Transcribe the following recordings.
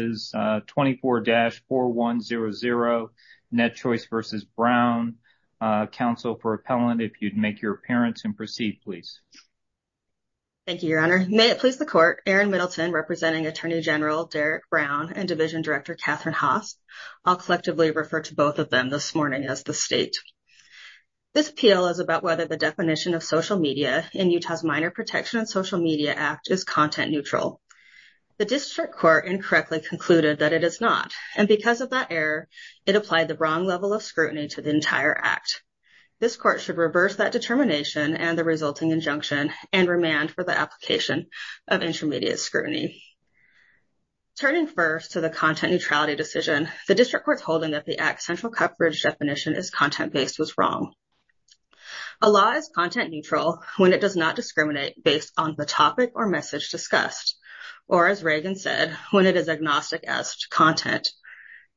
24-4100 NetChoice v. Brown. Council for appellant if you'd make your appearance and proceed please. Thank you your honor. May it please the court Aaron Middleton representing Attorney General Derek Brown and Division Director Catherine Haas. I'll collectively refer to both of them this morning as the state. This appeal is about whether the definition of social media in Utah's Minor Protection and Social Media Act is content neutral. The district court incorrectly concluded that it is not and because of that error it applied the wrong level of scrutiny to the entire act. This court should reverse that determination and the resulting injunction and remand for the application of intermediate scrutiny. Turning first to the content neutrality decision the district court's holding that the act central coverage definition is content-based was wrong. A law is content neutral when it does not discriminate based on the topic or message discussed or as Reagan said when it is agnostic as to content.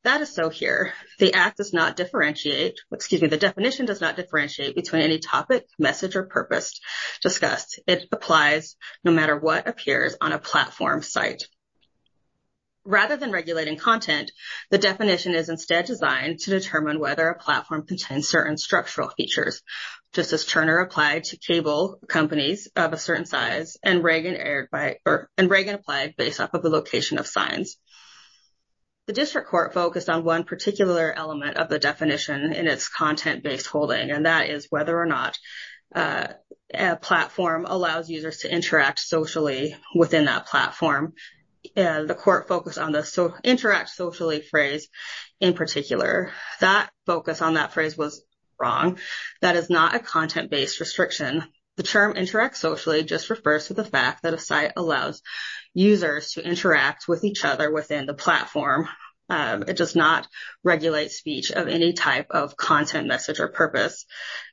That is so here. The act does not differentiate excuse me the definition does not differentiate between any topic message or purpose discussed. It applies no matter what appears on a platform site. Rather than regulating content the definition is instead designed to determine whether a platform contains certain structural features just as Turner applied to cable companies of a size and Reagan applied based off of the location of signs. The district court focused on one particular element of the definition in its content-based holding and that is whether or not a platform allows users to interact socially within that platform. The court focused on the interact socially phrase in particular. That focus on that phrase was wrong. That is not a the fact that a site allows users to interact with each other within the platform. It does not regulate speech of any type of content message or purpose.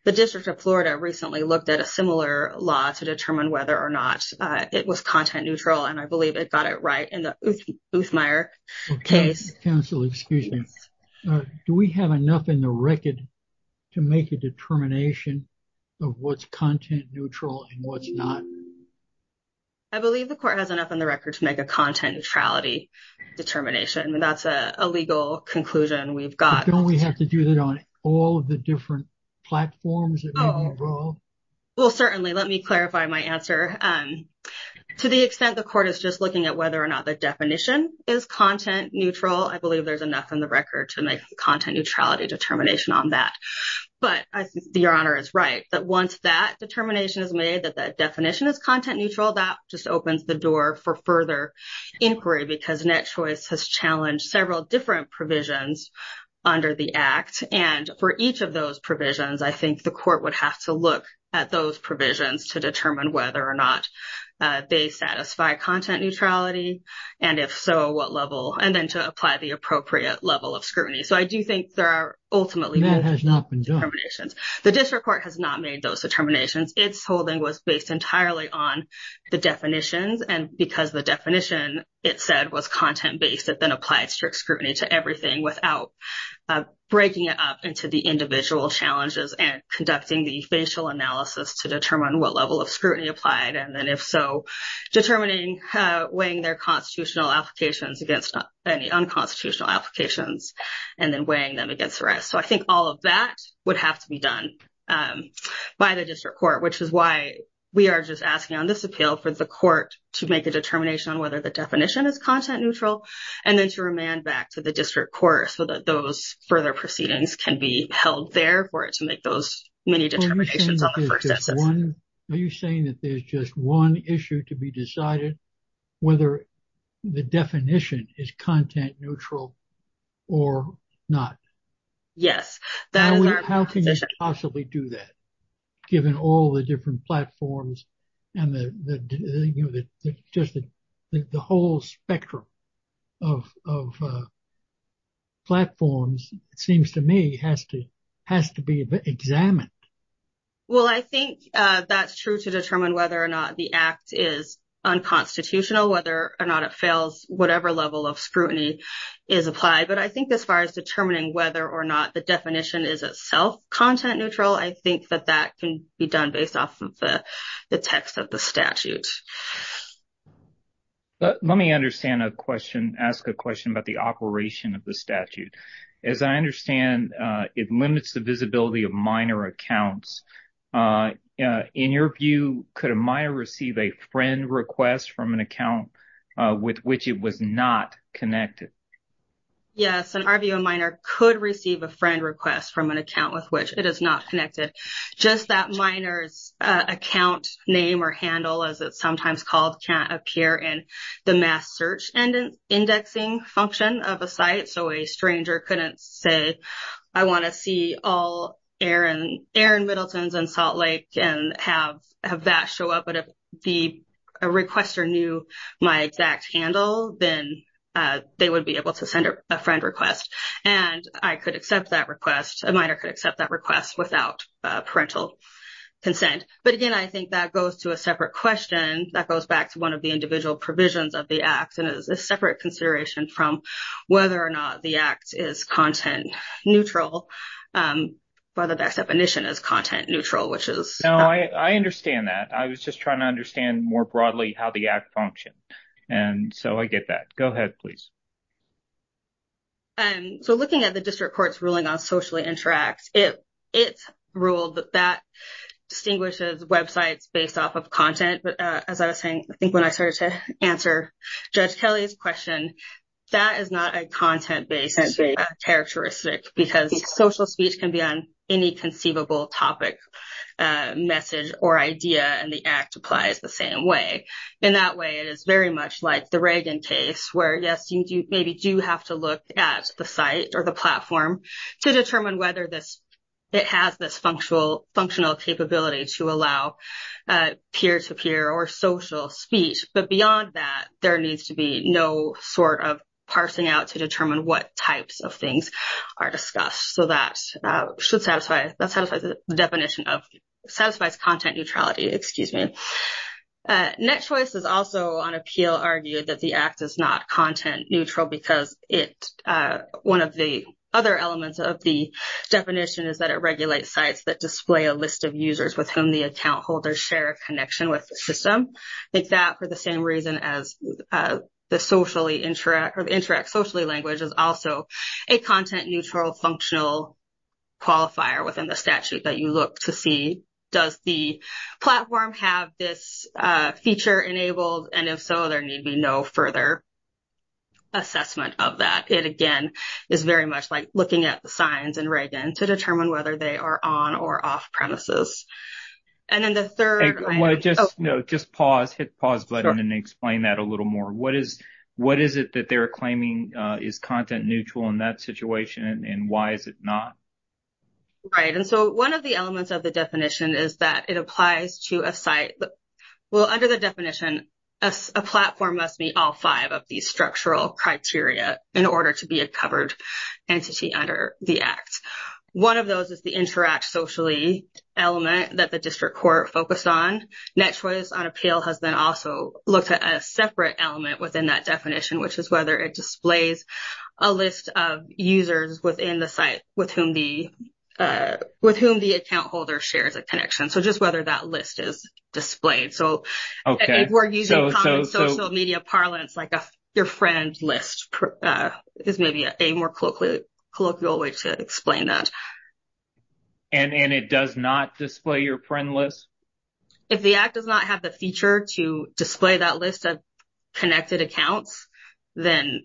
The District of Florida recently looked at a similar law to determine whether or not it was content neutral and I believe it got it right in the Oothmeyer case. Counsel excuse me do we have enough in the record to make a determination of what's content neutral and what's not? I believe the court has enough on the record to make a content neutrality determination and that's a legal conclusion we've got. Don't we have to do that on all the different platforms? Well certainly let me clarify my answer. To the extent the court is just looking at whether or not the definition is content neutral I believe there's enough in the record to make content neutrality determination on that. But I think the Your Honor is right that once that determination is made that that definition is content neutral that just opens the door for further inquiry because NetChoice has challenged several different provisions under the Act and for each of those provisions I think the court would have to look at those provisions to determine whether or not they satisfy content neutrality and if so what level and then to apply the appropriate level of scrutiny. So I do think there are ultimately that has not been done. The district court has not made those determinations. It's holding was based entirely on the definitions and because the definition it said was content-based it then applied strict scrutiny to everything without breaking it up into the individual challenges and conducting the facial analysis to determine what level of scrutiny applied and then if so determining weighing their constitutional applications against any unconstitutional applications and then weighing them against the rest. So I think all of that would have to be done by the district court which is why we are just asking on this appeal for the court to make a determination on whether the definition is content neutral and then to remand back to the district court so that those further proceedings can be held there for it to make those many determinations on the first instance. Are you saying that there's just one issue to be decided whether the definition is content neutral or not? Yes. How can you possibly do that given all the different platforms and the just the whole spectrum of platforms it seems to me has to has to be examined. Well I think that's true to determine whether or not the act is unconstitutional whether or not it fails whatever level of scrutiny is applied but I think as far as determining whether or not the definition is itself content neutral I think that that can be done based off of the text of the statute. Let me understand a question ask a question about the operation of the statute. As I understand it limits the visibility of minor accounts. In your view could a minor receive a friend request from an account with which it was not connected? Yes in our view a minor could receive a friend request from an account with which it is not connected. Just that minor's account name or handle as it's sometimes called can't appear in the mass search and indexing function of a site so a stranger couldn't say I want to see all Aaron Middleton's in Salt Lake and have that show up but if the requester knew my exact handle then they would be able to send a friend request and I could accept that request a minor could accept that request without parental consent but again I think that goes to a separate question that goes back to one of the individual provisions of the act and is a separate consideration from whether or not the act is content neutral by the best definition is content neutral which is no I I understand that I was just trying to understand more broadly how the act function and so I get that go ahead please and so looking at the district courts ruling on socially interact it it's ruled that that distinguishes websites based off of content but as I think when I started to answer judge Kelly's question that is not a content based as a characteristic because social speech can be on any conceivable topic message or idea and the act applies the same way in that way it is very much like the Reagan case where yes you do maybe do have to look at the site or the platform to determine whether this it has this functional functional capability to allow peer-to-peer or social speech but beyond that there needs to be no sort of parsing out to determine what types of things are discussed so that should satisfy that satisfies the definition of satisfies content neutrality excuse me next choice is also on appeal argued that the act is not content neutral because it one of the other elements of the definition is that it regulates sites that display a list of users with whom the account holders share a connection with system like that for the same reason as the socially interact or the interact socially language is also a content neutral functional qualifier within the statute that you look to see does the platform have this feature enabled and if so there need be no further assessment of that it again is very much like looking at the signs and Reagan to determine whether they are on or off-premises and then the third one just no just pause hit pause button and explain that a little more what is what is it that they're claiming is content neutral in that situation and why is it not right and so one of the elements of the definition is that it applies to a site well under the definition a platform must meet all five of these those is the interact socially element that the district court focused on net choice on appeal has been also looked at a separate element within that definition which is whether it displays a list of users within the site with whom the with whom the account holder shares a connection so just whether that list is displayed so okay we're using social media parlance like a your friend list is maybe a more quickly colloquial way to explain that and and it does not display your friend list if the act does not have the feature to display that list of connected accounts then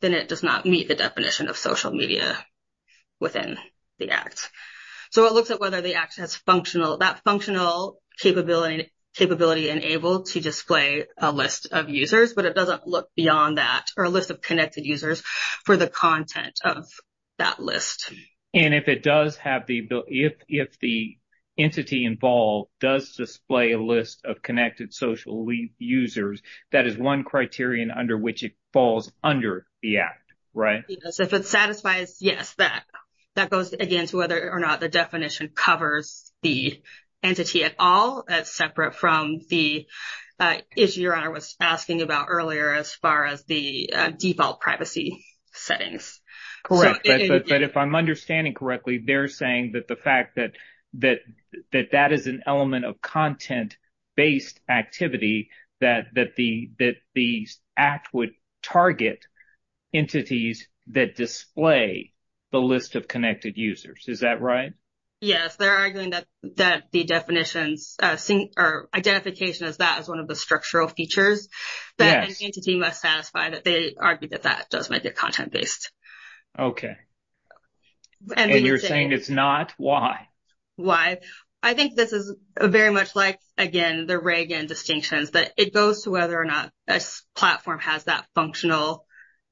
then it does not meet the definition of social media within the act so it looks at whether the action is functional that functional capability capability enabled to display a list of users but it looks beyond that or a list of connected users for the content of that list and if it does have the ability if the entity involved does display a list of connected socially users that is one criterion under which it falls under the act right so if it satisfies yes that that goes against whether or not the definition covers the entity at all as separate from the issue your honor was asking about earlier as far as the default privacy settings correct but if I'm understanding correctly they're saying that the fact that that that that is an element of content based activity that that the that the act would target entities that display the list of connected users is that right yes they're arguing that that the definitions seeing our identification as that as one of the structural features that entity must satisfy that they argued that that does make it content-based okay and you're saying it's not why why I think this is very much like again the Reagan distinctions that it goes to whether or not a platform has that functional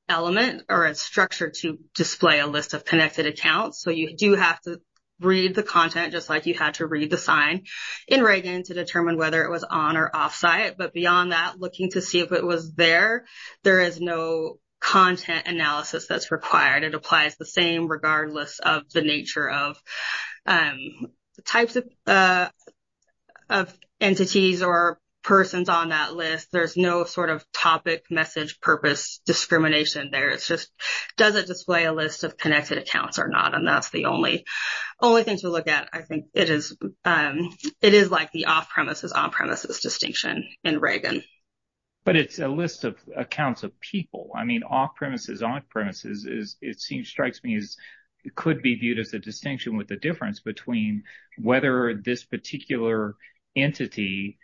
element or a structure to display a list of connected accounts so you do have to read the content just like you had to read the sign in Reagan to determine whether it was on or off site but beyond that looking to see if it was there there is no content analysis that's required it applies the same regardless of the nature of types of entities or persons on that list there's no sort of topic message purpose discrimination there it's just does it display a list of connected accounts or not and that's the only only thing to look at I think it is it is like the off-premises on-premises distinction in Reagan but it's a list of accounts of people I mean off-premises on-premises is it seems strikes me as it could be viewed as a distinction with the difference between whether this particular entity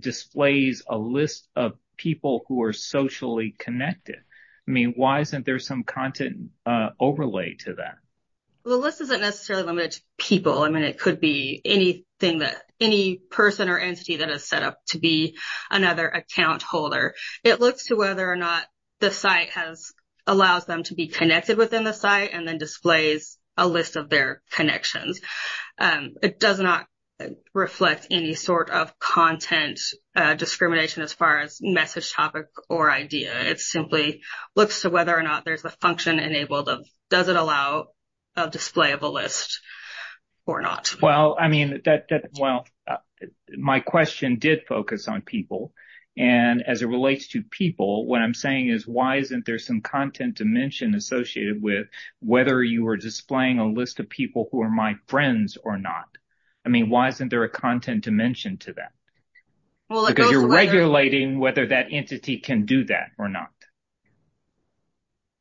displays a list of people who are socially connected I mean why isn't there some content overlay to that people I mean it could be anything that any person or entity that has set up to be another account holder it looks to whether or not the site has allows them to be connected within the site and then displays a list of their connections it does not reflect any sort of content discrimination as far as message topic or idea it simply looks to whether or not there's a function enabled of does it allow a display of a list or not well I mean that well my question did focus on people and as it relates to people what I'm saying is why isn't there some content dimension associated with whether you were displaying a list of people who are my friends or not I mean why isn't there a content dimension to that well you're regulating whether that entity can do that or not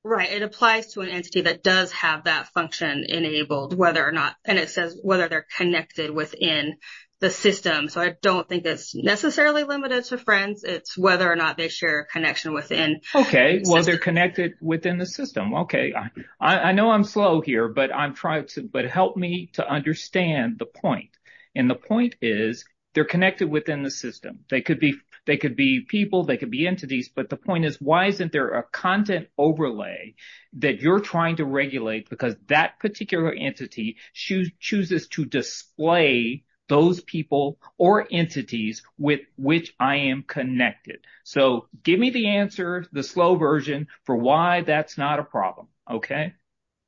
right it applies to an entity that does have that function enabled whether or not and it says whether they're connected within the system so I don't think that's necessarily limited to friends it's whether or not they share a connection within okay well they're connected within the system okay I know I'm slow here but I'm trying to but help me to understand the point and the point is they're connected within the system they could be they could be people they could be entities but the point is why isn't there a content overlay that you're trying to regulate because that particular entity chooses to display those people or entities with which I am connected so give me the answer the slow version for why that's not a problem okay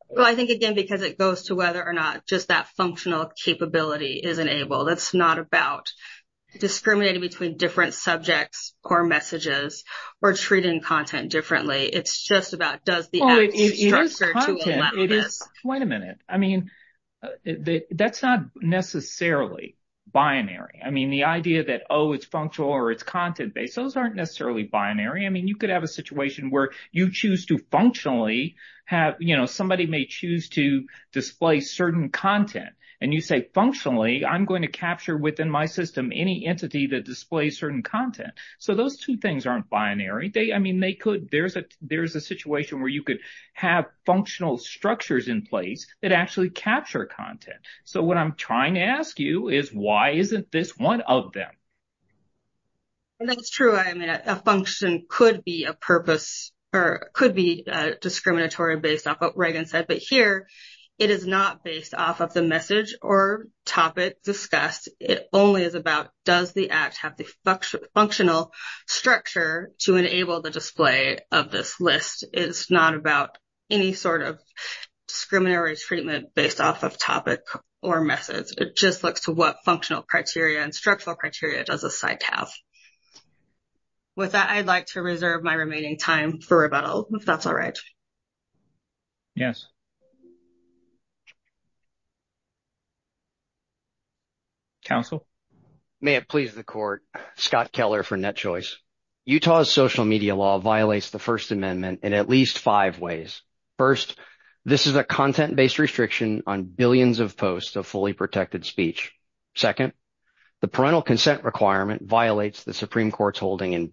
well I think again because it goes to whether or not just that functional capability isn't able that's not about discriminating between different subjects or messages or treating content differently it's just about does the structure to allow this. Wait a minute I mean that's not necessarily binary I mean the idea that oh it's functional or it's content based those aren't necessarily binary I mean you could have a situation where you choose to functionally have you know say functionally I'm going to capture within my system any entity that displays certain content so those two things aren't binary they I mean they could there's a there's a situation where you could have functional structures in place that actually capture content so what I'm trying to ask you is why isn't this one of them? That's true I mean a function could be a purpose or could be discriminatory based off what Reagan said but here it is not based off of the message or topic discussed it only is about does the act have the functional structure to enable the display of this list it's not about any sort of discriminatory treatment based off of topic or message it just looks to what functional criteria and structural criteria does a site have with that I'd like to reserve my remaining time for rebuttal if that's all right yes counsel may it please the court Scott Keller for net choice Utah's social media law violates the First Amendment in at least five ways first this is a content-based restriction on billions of posts of fully protected speech second the parental consent requirement violates the Supreme Court's holding in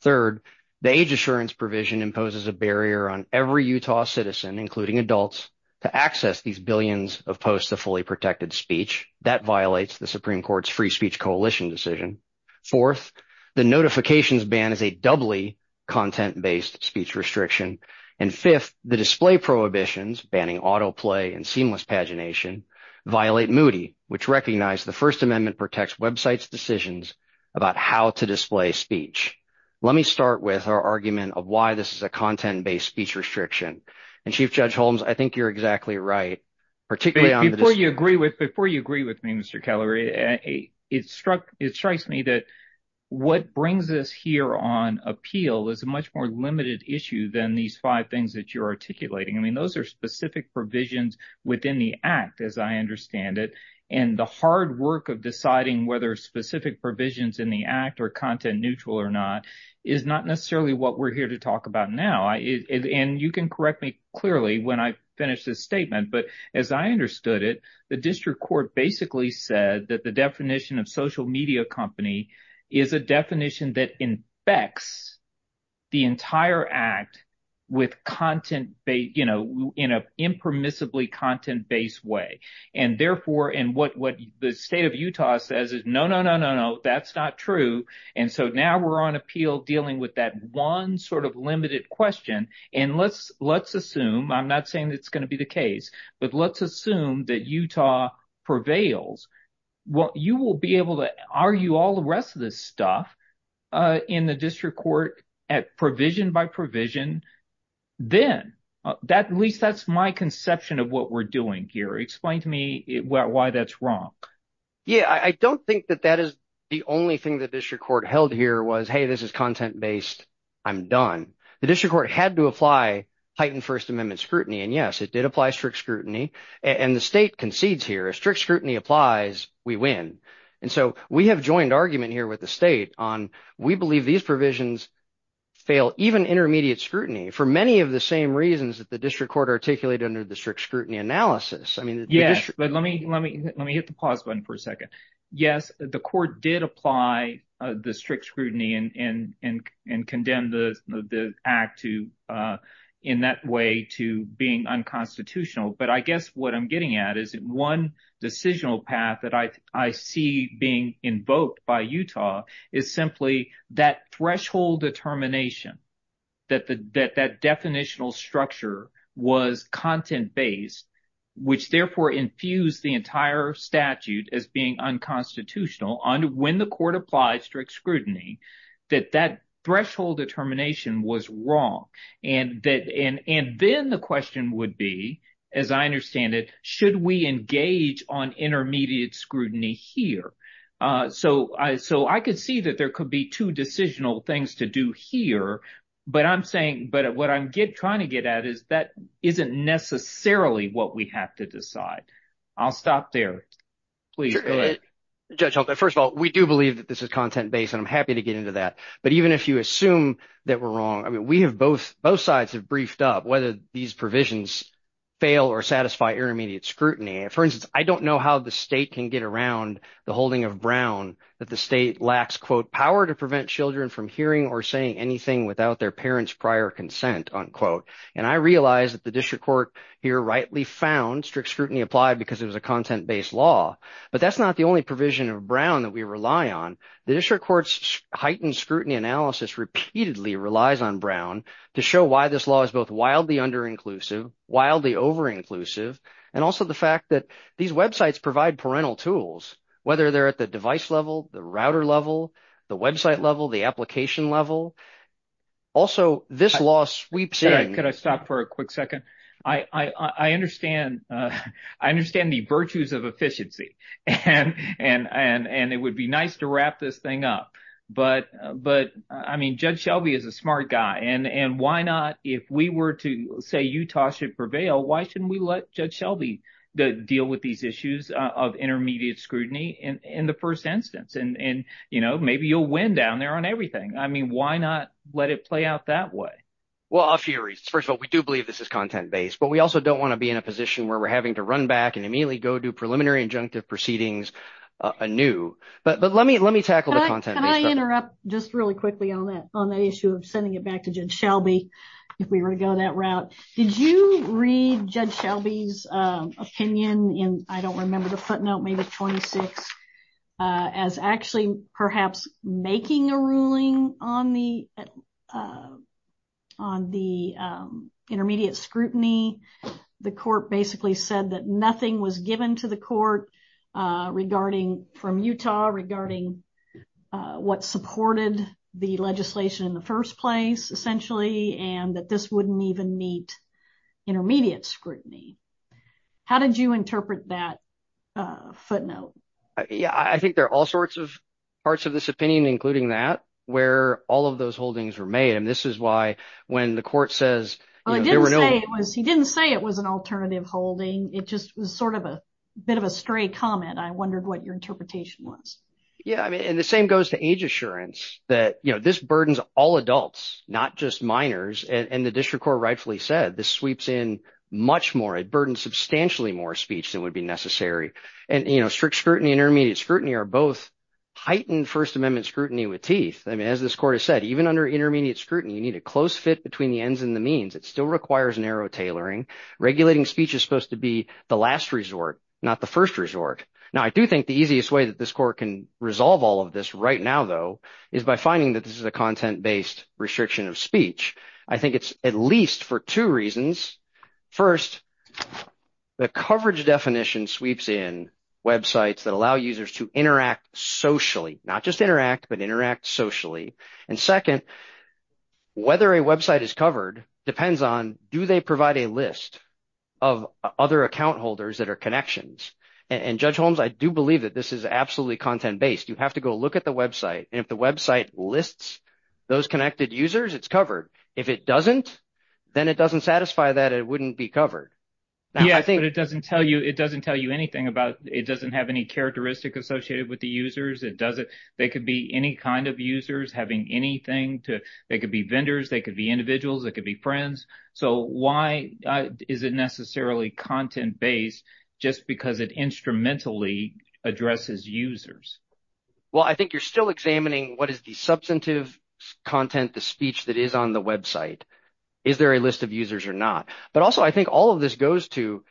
third the age assurance provision imposes a barrier on every Utah citizen including adults to access these billions of posts of fully protected speech that violates the Supreme Court's free speech coalition decision fourth the notifications ban is a doubly content-based speech restriction and fifth the display prohibitions banning autoplay and seamless pagination violate moody which recognized the First Amendment protects websites decisions about how to display speech let me start with our argument of why this is a content-based speech restriction and Chief Judge Holmes I think you're exactly right particularly before you agree with before you agree with me mr. Keller a it struck it strikes me that what brings us here on appeal is a much more limited issue than these five things that you're articulating I mean those are specific provisions within the act as I understand it and the hard work of deciding whether specific provisions in the act or content neutral or not is not necessarily what we're here to talk about now I is and you can correct me clearly when I finish this statement but as I understood it the district court basically said that the definition of social media company is a definition that infects the entire act with content they you know in a impermissibly content-based way and therefore in what what the state of Utah says is no no no no no that's not true and so now we're on appeal dealing with that one sort of limited question and let's let's assume I'm not saying that's going to be the case but let's assume that Utah prevails what you will be able to argue all the rest of this stuff in the district court at provision by provision then that at my conception of what we're doing here explain to me why that's wrong yeah I don't think that that is the only thing that district court held here was hey this is content-based I'm done the district court had to apply Titan First Amendment scrutiny and yes it did apply strict scrutiny and the state concedes here a strict scrutiny applies we win and so we have joined argument here with the state on we believe these provisions fail even intermediate scrutiny for many of the same reasons that the district court articulated under the strict scrutiny analysis I mean yes but let me let me let me hit the pause button for a second yes the court did apply the strict scrutiny and and and and condemn the act to in that way to being unconstitutional but I guess what I'm getting at is it one decisional path that I see being invoked by Utah is simply that threshold determination that the that that definitional structure was content-based which therefore infused the entire statute as being unconstitutional on when the court applied strict scrutiny that that threshold determination was wrong and that in and then the question would be as I understand it should we engage on intermediate scrutiny here so I so I could see that there could be two decisional things to do here but I'm saying but what I'm get trying to get at is that isn't necessarily what we have to decide I'll stop there please go ahead judge hope that first of all we do believe that this is content-based and I'm happy to get into that but even if you assume that we're wrong I mean we have both both sides have briefed up whether these provisions fail or satisfy intermediate scrutiny for instance I don't know how the state can get around the holding of Brown that the state quote power to prevent children from hearing or saying anything without their parents prior consent unquote and I realize that the district court here rightly found strict scrutiny applied because it was a content-based law but that's not the only provision of Brown that we rely on the district courts heightened scrutiny analysis repeatedly relies on Brown to show why this law is both wildly under inclusive wildly over inclusive and also the fact that these websites provide parental tools whether they're at the device level the router level the website level the application level also this law sweeps in could I stop for a quick second I I understand I understand the virtues of efficiency and and and and it would be nice to wrap this thing up but but I mean judge Shelby is a smart guy and and why not if we were to say Utah should prevail why shouldn't we let judge Shelby the deal with these issues of intermediate scrutiny and in the first instance and and you know maybe you'll win down there on everything I mean why not let it play out that way well a few reasons first of all we do believe this is content-based but we also don't want to be in a position where we're having to run back and immediately go do preliminary injunctive proceedings anew but but let me let me tackle the content can I interrupt just really quickly on that on the issue of sending it back to judge Shelby if we were to go that route did you read judge Shelby's opinion in I don't remember the footnote maybe 26 as actually perhaps making a ruling on the on the intermediate scrutiny the court basically said that nothing was given to the court regarding from Utah regarding what supported the legislation in the first place essentially and that this wouldn't even meet intermediate scrutiny how did you interpret that footnote yeah I think there are all sorts of parts of this opinion including that where all of those holdings were made and this is why when the court says he didn't say it was an alternative holding it just was sort of a bit of a stray comment I wondered what your interpretation was yeah I mean and the same goes to age assurance that you know this burdens all adults not just minors and the District Court rightfully said this sweeps in much more a burden substantially more speech than would be necessary and you know strict scrutiny intermediate scrutiny are both heightened First Amendment scrutiny with teeth I mean as this court has said even under intermediate scrutiny you need a close fit between the ends and the means it still requires narrow tailoring regulating speech is supposed to be the last resort not the first resort now I do think the easiest way that this court can resolve all of this right now though is by finding that this is a content-based restriction of speech I think it's at least for two reasons first the coverage definition sweeps in websites that allow users to interact socially not just interact but interact socially and second whether a website is covered depends on do they provide a list of other account holders that are connections and judge Holmes I do believe that this is absolutely content-based you have to go look at the website if the website lists those connected users it's covered if it doesn't then it doesn't satisfy that it wouldn't be covered yeah I think it doesn't tell you it doesn't tell you anything about it doesn't have any characteristic associated with the users it doesn't they could be any kind of users having anything to they could be vendors they could be individuals that could be friends so why is it necessarily content-based just because it instrumentally addresses users well I think you're still examining what is the substantive content the speech that is on the website is there a list of users or not but also I think all of this goes to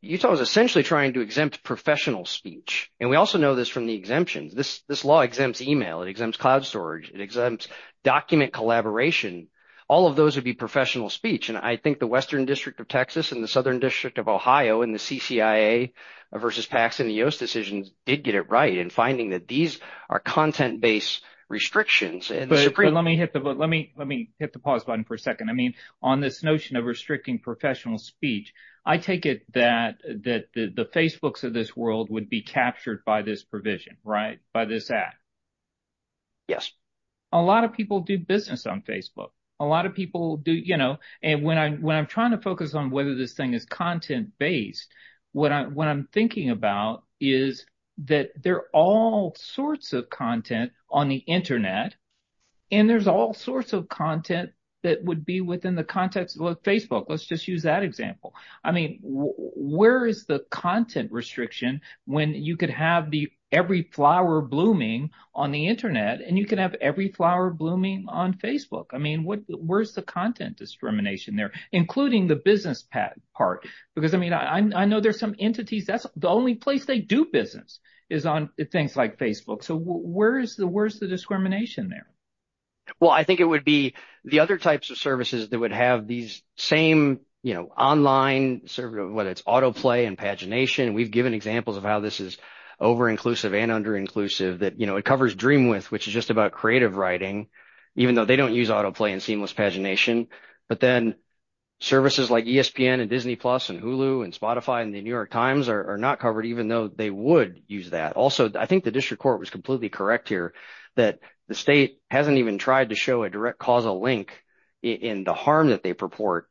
Utah is essentially trying to exempt professional speech and we also know this from the exemptions this this law exempts email it exempts cloud storage it exempts document collaboration all of those would be professional speech and I think the Western District of Texas and the Southern District of Ohio and the CCIA versus PACS in the US decisions did get it right and finding that these are content-based restrictions and let me hit the button let me let me hit the pause button for a second I mean on this notion of restricting professional speech I take it that that the the Facebook's of this world would be captured by this provision right by this act yes a lot of people do business on Facebook a lot of people do you know and when I'm trying to focus on whether this thing is content-based what I'm thinking about is that they're all sorts of content on the internet and there's all sorts of content that would be within the context of Facebook let's just use that example I mean where is the content restriction when you could have the every flower blooming on the internet and you can have every flower blooming on Facebook I mean what where's the content discrimination there including the business patent part because I mean I know there's some entities that's the only place they do business is on things like Facebook so where is the where's the discrimination there well I think it would be the other types of services that would have these same you know online server whether it's autoplay and pagination we've given examples of how this is over inclusive and under inclusive that you know it covers dream with which is just about creative writing even though they don't use autoplay and seamless pagination but then services like ESPN and Disney Plus and Hulu and Spotify and the New York Times are not covered even though they would use that also I think the district court was completely correct here that the state hasn't even tried to show a direct causal link in the harm that they purport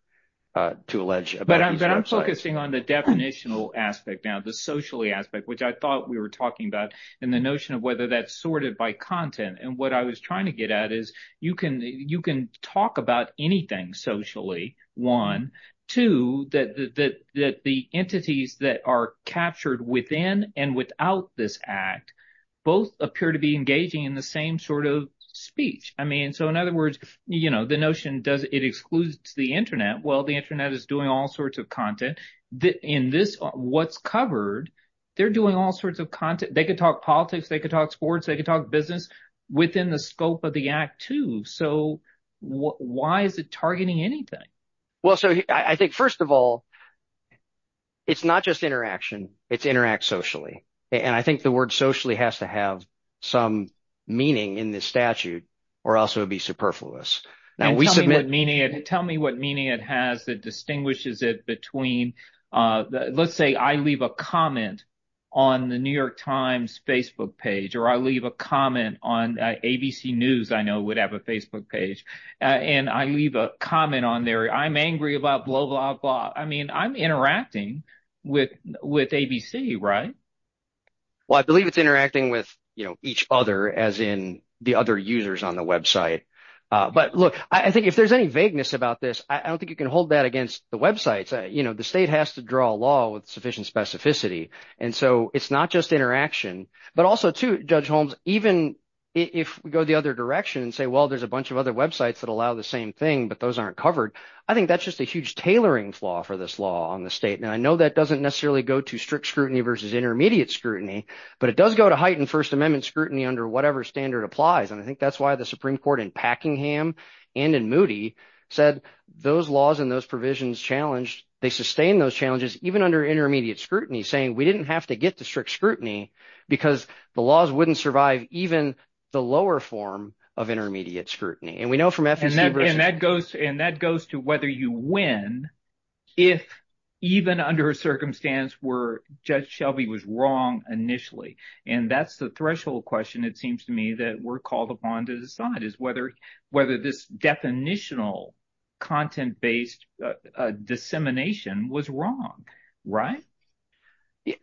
to allege but I'm focusing on the definitional aspect now the socially aspect which I thought we were talking about and the notion of whether that's sorted by content and what I was trying to get at is you can you can talk about anything socially one two that the entities that are captured within and without this act both appear to be engaging in the same sort of speech I mean so in other words you know the notion does it excludes the Internet well the Internet is doing all sorts of content that in this what's covered they're doing all sorts of content they could talk politics they could talk sports they could talk business within the scope of the act too so why is it targeting anything well so I think first of all it's not just interaction it's interact socially and I think the word socially has to have some meaning in this statute or else it would be superfluous now we submit meaning it tell me what meaning it has that distinguishes it between let's say I leave a comment on the New York Times Facebook page or I leave a comment on ABC News I know would have a Facebook page and I leave a comment on there I'm angry about blah blah blah I mean I'm interacting with with ABC right well I believe it's interacting with you know each other as in the other users on the website but look I think if there's any about this I don't think you can hold that against the websites you know the state has to draw a law with sufficient specificity and so it's not just interaction but also to judge Holmes even if we go the other direction and say well there's a bunch of other websites that allow the same thing but those aren't covered I think that's just a huge tailoring flaw for this law on the statement I know that doesn't necessarily go to strict scrutiny versus intermediate scrutiny but it does go to heighten First Amendment scrutiny under whatever standard applies and I think that's why the Supreme Court in Hackingham and in Moody said those laws and those provisions challenged they sustain those challenges even under intermediate scrutiny saying we didn't have to get to strict scrutiny because the laws wouldn't survive even the lower form of intermediate scrutiny and we know from that and that goes and that goes to whether you win if even under a circumstance where Judge Shelby was wrong initially and that's the threshold question it seems to me that we're called upon to decide is whether whether this definitional content-based dissemination was wrong right yeah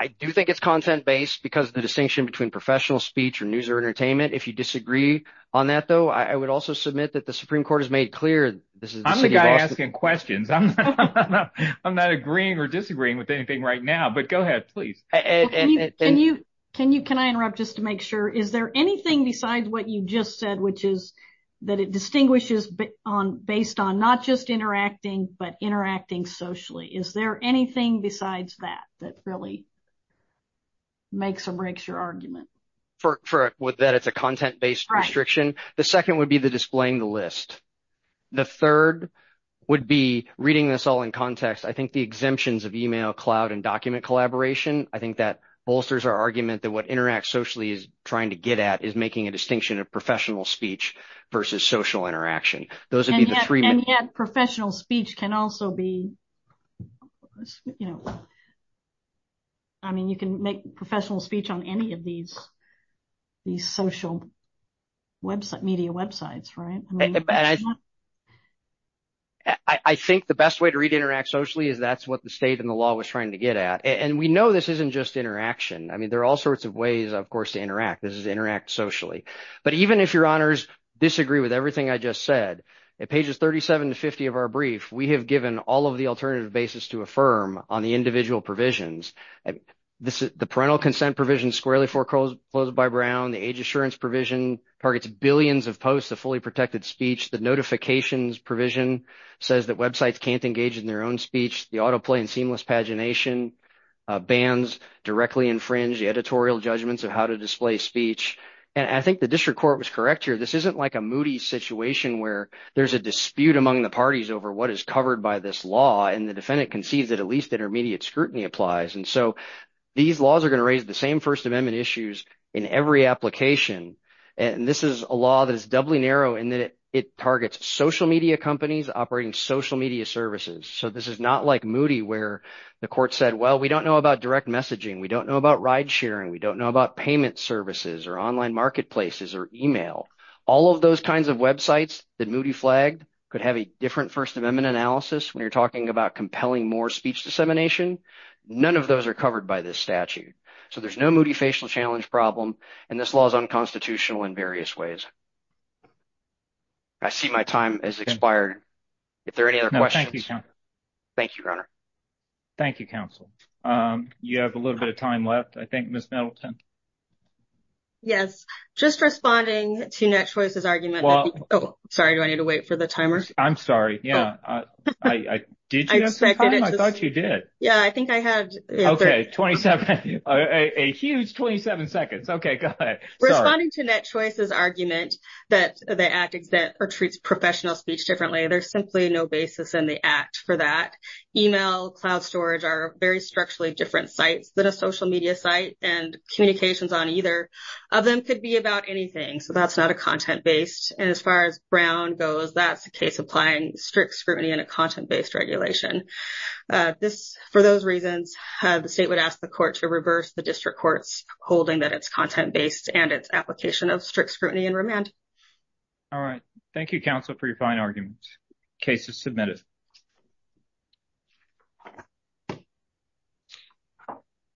I do think it's content-based because the distinction between professional speech or news or entertainment if you disagree on that though I would also submit that the Supreme Court has made clear this is asking questions I'm not agreeing or disagreeing with anything right now but can you can you can I interrupt just to make sure is there anything besides what you just said which is that it distinguishes but on based on not just interacting but interacting socially is there anything besides that that really makes or breaks your argument for it with that it's a content-based restriction the second would be the displaying the list the third would be reading this all in context I think the exemptions of email cloud and document collaboration I think that bolsters our argument that what interact socially is trying to get at is making a distinction of professional speech versus social interaction those are the three and yet professional speech can also be you know I mean you can make professional speech on any of these these social website media websites right I think the best way to read interact socially is that's what the state and the law was trying to get at and we know this isn't just interaction I mean there are all sorts of ways of course to interact this is interact socially but even if your honors disagree with everything I just said it pages 37 to 50 of our brief we have given all of the alternative basis to affirm on the individual provisions this is the parental consent provision squarely foreclosed closed by Brown the age assurance provision targets billions of posts a fully protected speech the notifications provision says that websites can't engage in their own speech the autoplay and seamless pagination bands directly infringe the editorial judgments of how to display speech and I think the district court was correct here this isn't like a moody situation where there's a dispute among the parties over what is covered by this law and the defendant concedes that at least intermediate scrutiny applies and so these laws are going to raise the same First Amendment issues in every application and this is a law that is doubly narrow in that it targets social media companies operating social media services so this is not like moody where the court said well we don't know about direct messaging we don't know about ride-sharing we don't know about payment services or online marketplaces or email all of those kinds of websites that moody flagged could have a different First Amendment analysis when you're talking about compelling more speech dissemination none of those are covered by this statute so there's no moody facial challenge problem and this law is unconstitutional in various ways I see my time is expired if there are any other questions thank you thank you counsel you have a little bit of time left I think miss Middleton yes just responding to net choices argument well sorry do I need to wait for the timer I'm sorry yeah I did I thought you did yeah I think I had okay 27 a huge 27 seconds okay good responding to net choices argument that they act exact or treats professional speech differently there's simply no basis in the act for that email cloud storage are very structurally different sites than a social media site and communications on either of them could be about anything so that's not a content-based and as far as Brown goes that's the case applying strict scrutiny and a content-based regulation this for those reasons the state would ask the court to reverse the district courts holding that it's content-based and its application of strict scrutiny and remand all right thank you counsel for your fine arguments cases submitted